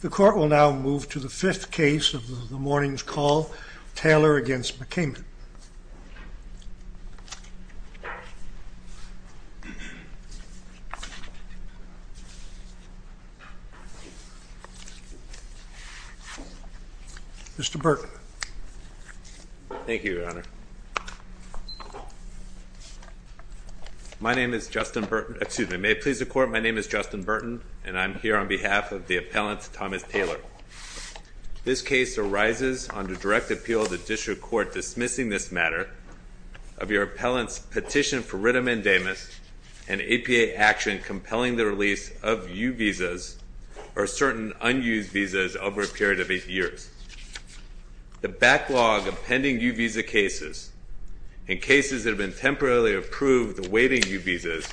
The court will now move to the fifth case of the morning's call, Taylor v. McCament. Mr. Burton. My name is Justin Burton, excuse me, may it please the court, my name is Justin Burton and I'm here on behalf of the appellant Thomas Taylor. This case arises under direct appeal of the district court dismissing this matter of your appellant's petition for writ amendamus and APA action compelling the release of U visas or certain unused visas over a period of eight years. The backlog of pending U visa cases and cases that have been temporarily approved awaiting U visas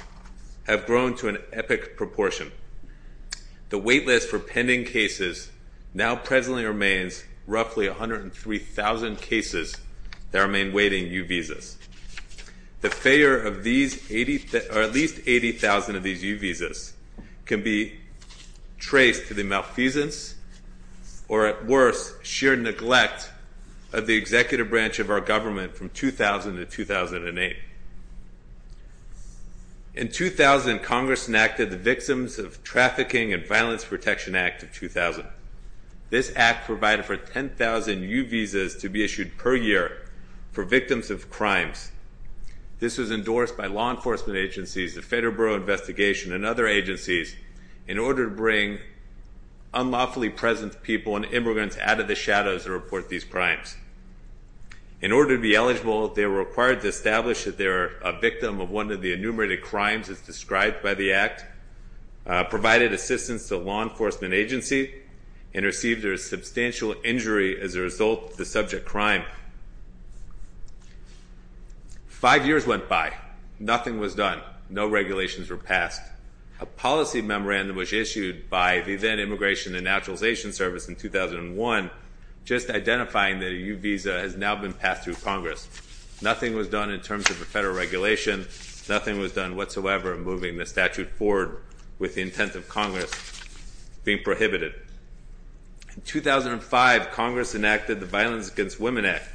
have grown to an epic proportion. The wait list for pending cases now presently remains roughly 103,000 cases that remain waiting U visas. The failure of at least 80,000 of these U visas can be traced to the malfeasance or at worst sheer neglect of the executive branch of our government from 2000 to 2008. In 2000, Congress enacted the Victims of Trafficking and Violence Protection Act of 2000. This act provided for 10,000 U visas to be issued per year for victims of crimes. This was endorsed by law enforcement agencies, the Federal Bureau of Investigation and other agencies in order to bring unlawfully present people and immigrants out of the shadows to report these crimes. In order to be eligible, they were required to establish that they were a victim of one of the enumerated crimes as described by the act, provided assistance to a law enforcement agency, and received a substantial injury as a result of the subject crime. Five years went by. Nothing was done. No regulations were passed. A policy memorandum was issued by the then Immigration and Naturalization Service in 2001 just identifying that a U visa has now been passed through Congress. Nothing was done in terms of a federal regulation. Nothing was done whatsoever in moving the statute forward with the intent of Congress being prohibited. In 2005, Congress enacted the Violence Against Women Act,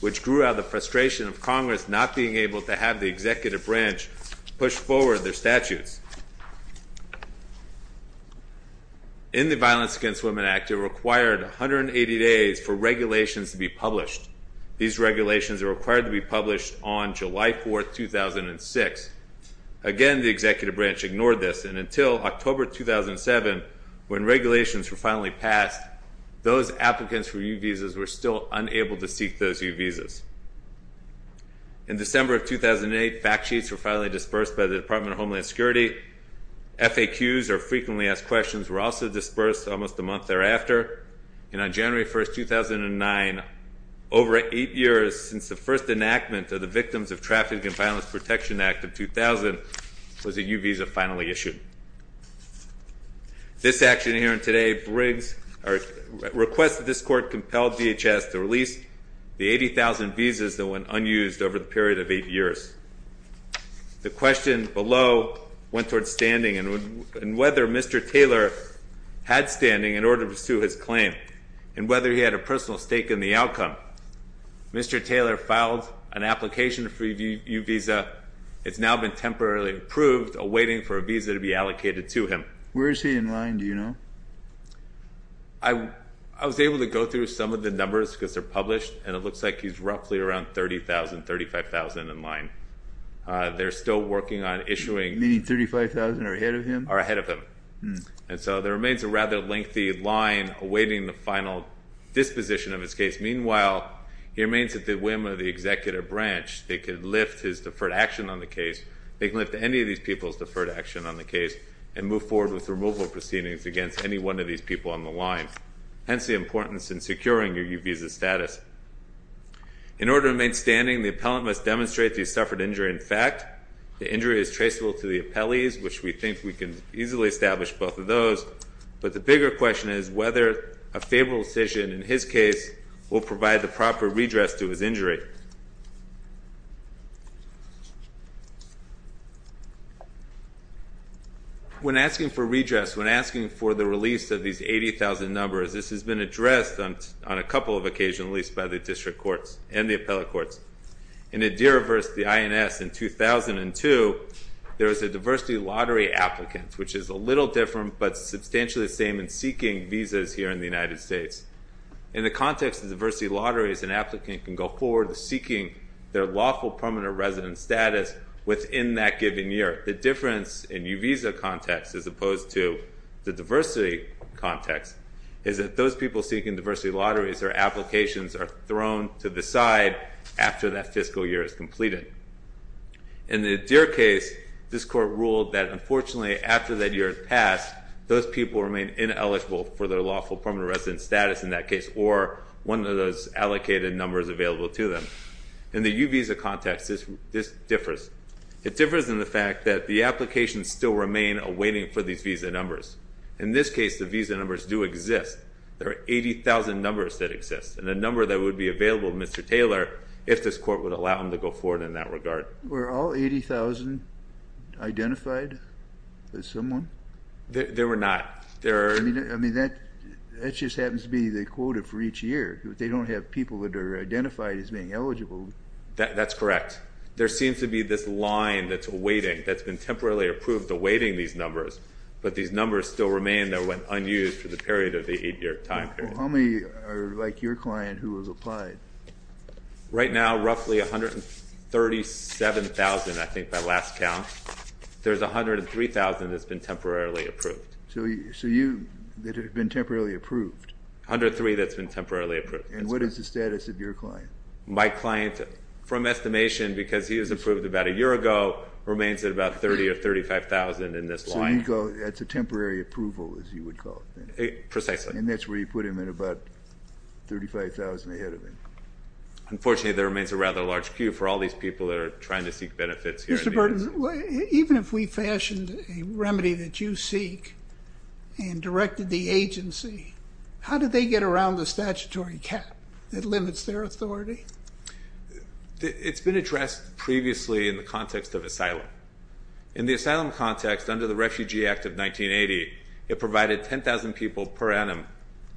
which grew out of the frustration of Congress not being able to have the executive branch push forward their statutes. In the Violence Against Women Act, it required 180 days for regulations to be published. These regulations are required to be published on July 4, 2006. Again, the executive branch ignored this, and until October 2007, when regulations were finally passed, those applicants for U visas were still unable to seek those U visas. In December of 2008, fact sheets were finally dispersed by the Department of Homeland Security. FAQs, or Frequently Asked Questions, were also dispersed almost a month thereafter. And on January 1, 2009, over eight years since the first enactment of the Victims of Traffic and Violence Protection Act of 2000, was a U visa finally issued. This action here and today requests that this Court compel DHS to release the 80,000 visas that went unused over the period of eight years. The question below went towards standing, and whether Mr. Taylor had standing in order to pursue his claim, and whether he had a personal stake in the outcome. Mr. Taylor filed an application for a U visa. It's now been temporarily approved, awaiting for a visa to be allocated to him. Where is he in line, do you know? I was able to go through some of the numbers because they're published, and it looks like he's roughly around 30,000, 35,000 in line. They're still working on issuing. Meaning 35,000 are ahead of him? Are ahead of him. And so there remains a rather lengthy line awaiting the final disposition of his case. Meanwhile, he remains at the whim of the executive branch. They could lift his deferred action on the case. They can lift any of these people's deferred action on the case, and move forward with removal proceedings against any one of these people on the line. Hence the importance in securing your U visa status. In order to remain standing, the appellant must demonstrate that he suffered injury in fact. The injury is traceable to the appellees, which we think we can easily establish both of those. But the bigger question is whether a favorable decision in his case will provide the proper redress to his injury. When asking for redress, when asking for the release of these 80,000 numbers, this has been addressed on a couple of occasions, at least by the district courts and the appellate courts. In the de-reverse, the INS, in 2002, there was a diversity lottery applicant, which is a little different but substantially the same in seeking visas here in the United States. In the context of diversity lotteries, an applicant can go forward to seeking their lawful permanent resident status within that given year. The difference in U visa context as opposed to the diversity context is that those people seeking diversity lotteries or applications are thrown to the side after that fiscal year is completed. In the de-re case, this court ruled that unfortunately after that year has passed, those people remain ineligible for their lawful permanent resident status in that case or one of those allocated numbers available to them. In the U visa context, this differs. It differs in the fact that the applications still remain awaiting for these visa numbers. In this case, the visa numbers do exist. There are 80,000 numbers that exist and a number that would be available to Mr. Taylor if this court would allow him to go forward in that regard. Were all 80,000 identified as someone? There were not. I mean, that just happens to be the quota for each year. They don't have people that are identified as being eligible. That's correct. There seems to be this line that's awaiting, that's been temporarily approved awaiting these numbers, but these numbers still remain. They're unused for the period of the eight-year time period. How many are like your client who has applied? Right now, roughly 137,000, I think, by last count. There's 103,000 that's been temporarily approved. So you, that have been temporarily approved? 103 that's been temporarily approved. And what is the status of your client? My client, from estimation, because he was approved about a year ago, remains at about 30 or 35,000 in this line. So you go, that's a temporary approval, as you would call it. Precisely. And that's where you put him at about 35,000 ahead of him. Unfortunately, there remains a rather large queue for all these people that are trying to seek benefits here. Mr. Burton, even if we fashioned a remedy that you seek and directed the agency, how do they get around the statutory cap that limits their authority? It's been addressed previously in the context of asylum. In the asylum context, under the Refugee Act of 1980, it provided 10,000 people per annum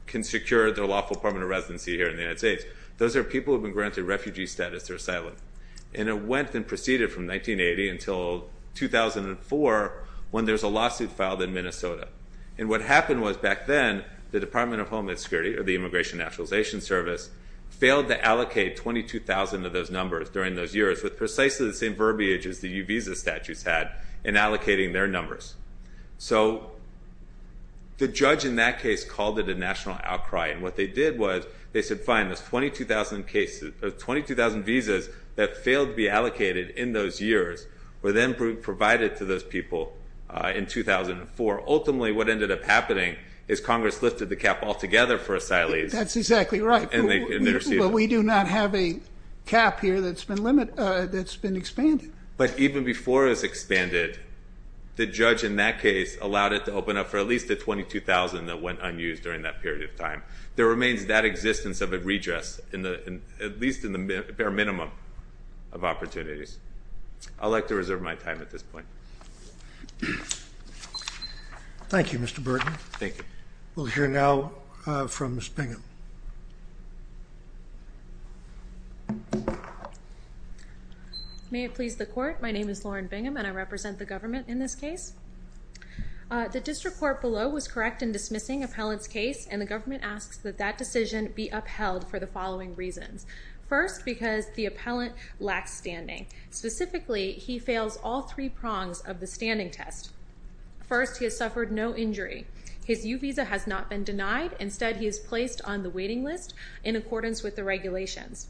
can secure their lawful permanent residency here in the United States. Those are people who have been granted refugee status or asylum. And it went and proceeded from 1980 until 2004, when there's a lawsuit filed in Minnesota. And what happened was, back then, the Department of Homeland Security, or the Immigration and Naturalization Service, failed to allocate 22,000 of those numbers during those years with precisely the same verbiage as the U Visa statutes had in allocating their numbers. So the judge in that case called it a national outcry. And what they did was, they said, fine, those 22,000 visas that failed to be allocated in those years were then provided to those people in 2004. Ultimately, what ended up happening is Congress lifted the cap altogether for asylees. That's exactly right. And they received it. But we do not have a cap here that's been expanded. But even before it was expanded, the judge in that case allowed it to open up for at least the 22,000 that went unused during that period of time. There remains that existence of a redress, at least in the bare minimum of opportunities. I'd like to reserve my time at this point. Thank you, Mr. Burton. Thank you. We'll hear now from Ms. Bingham. May it please the court. My name is Lauren Bingham, and I represent the government in this case. The district court below was correct in dismissing appellant's case, and the government asks that that decision be upheld for the following reasons. First, because the appellant lacks standing. Specifically, he fails all three prongs of the standing test. First, he has suffered no injury. His U Visa has not been denied. Instead, he is placed on the waiting list in accordance with the regulations.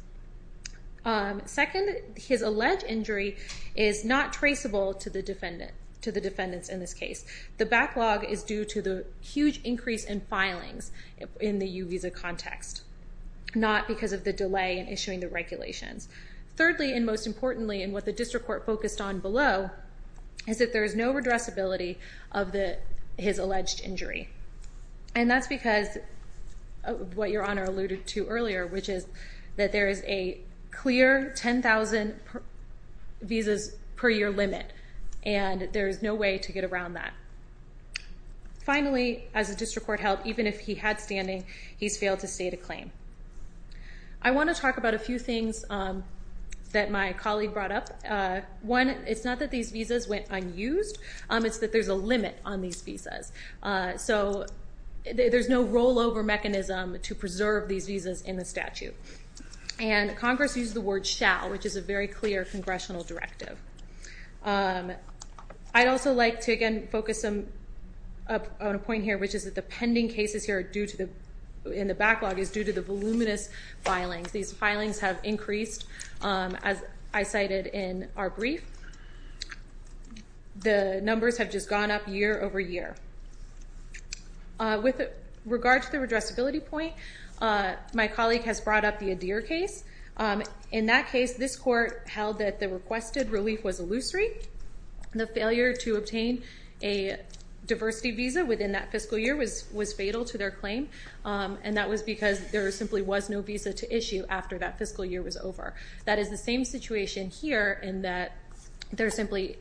Second, his alleged injury is not traceable to the defendants in this case. The backlog is due to the huge increase in filings in the U Visa context, not because of the delay in issuing the regulations. Thirdly, and most importantly, and what the district court focused on below, is that there is no redressability of his alleged injury. And that's because of what Your Honor alluded to earlier, which is that there is a clear 10,000 visas per year limit, and there is no way to get around that. Finally, as the district court held, even if he had standing, he's failed to state a claim. I want to talk about a few things that my colleague brought up. One, it's not that these visas went unused. It's that there's a limit on these visas. So there's no rollover mechanism to preserve these visas in the statute. And Congress used the word shall, which is a very clear congressional directive. I'd also like to, again, focus on a point here, which is that the pending cases here in the backlog is due to the voluminous filings. These filings have increased, as I cited in our brief. The numbers have just gone up year over year. With regard to the redressability point, my colleague has brought up the Adir case. In that case, this court held that the requested relief was illusory. The failure to obtain a diversity visa within that fiscal year was fatal to their claim. And that was because there simply was no visa to issue after that fiscal year was over. That is the same situation here in that there simply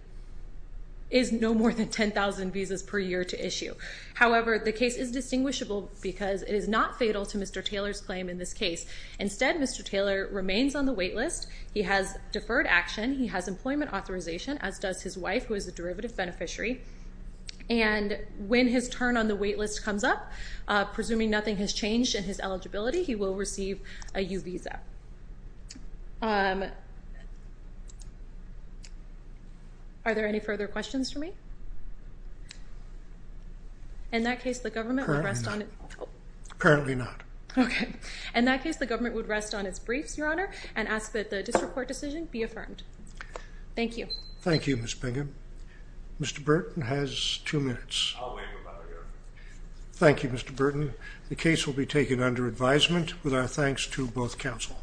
is no more than 10,000 visas per year to issue. However, the case is distinguishable because it is not fatal to Mr. Taylor's claim in this case. Instead, Mr. Taylor remains on the wait list. He has deferred action. He has employment authorization, as does his wife, who is a derivative beneficiary. And when his turn on the wait list comes up, presuming nothing has changed in his eligibility, he will receive a U visa. Are there any further questions for me? In that case, the government would rest on... Apparently not. Oh. Apparently not. Okay. In that case, the government would rest on its briefs, Your Honor, and ask that the disreport decision be affirmed. Thank you. Thank you, Ms. Bingham. Mr. Burton has two minutes. I'll wait about a year. Thank you, Mr. Burton. The case will be taken under advisement, with our thanks to both counsel.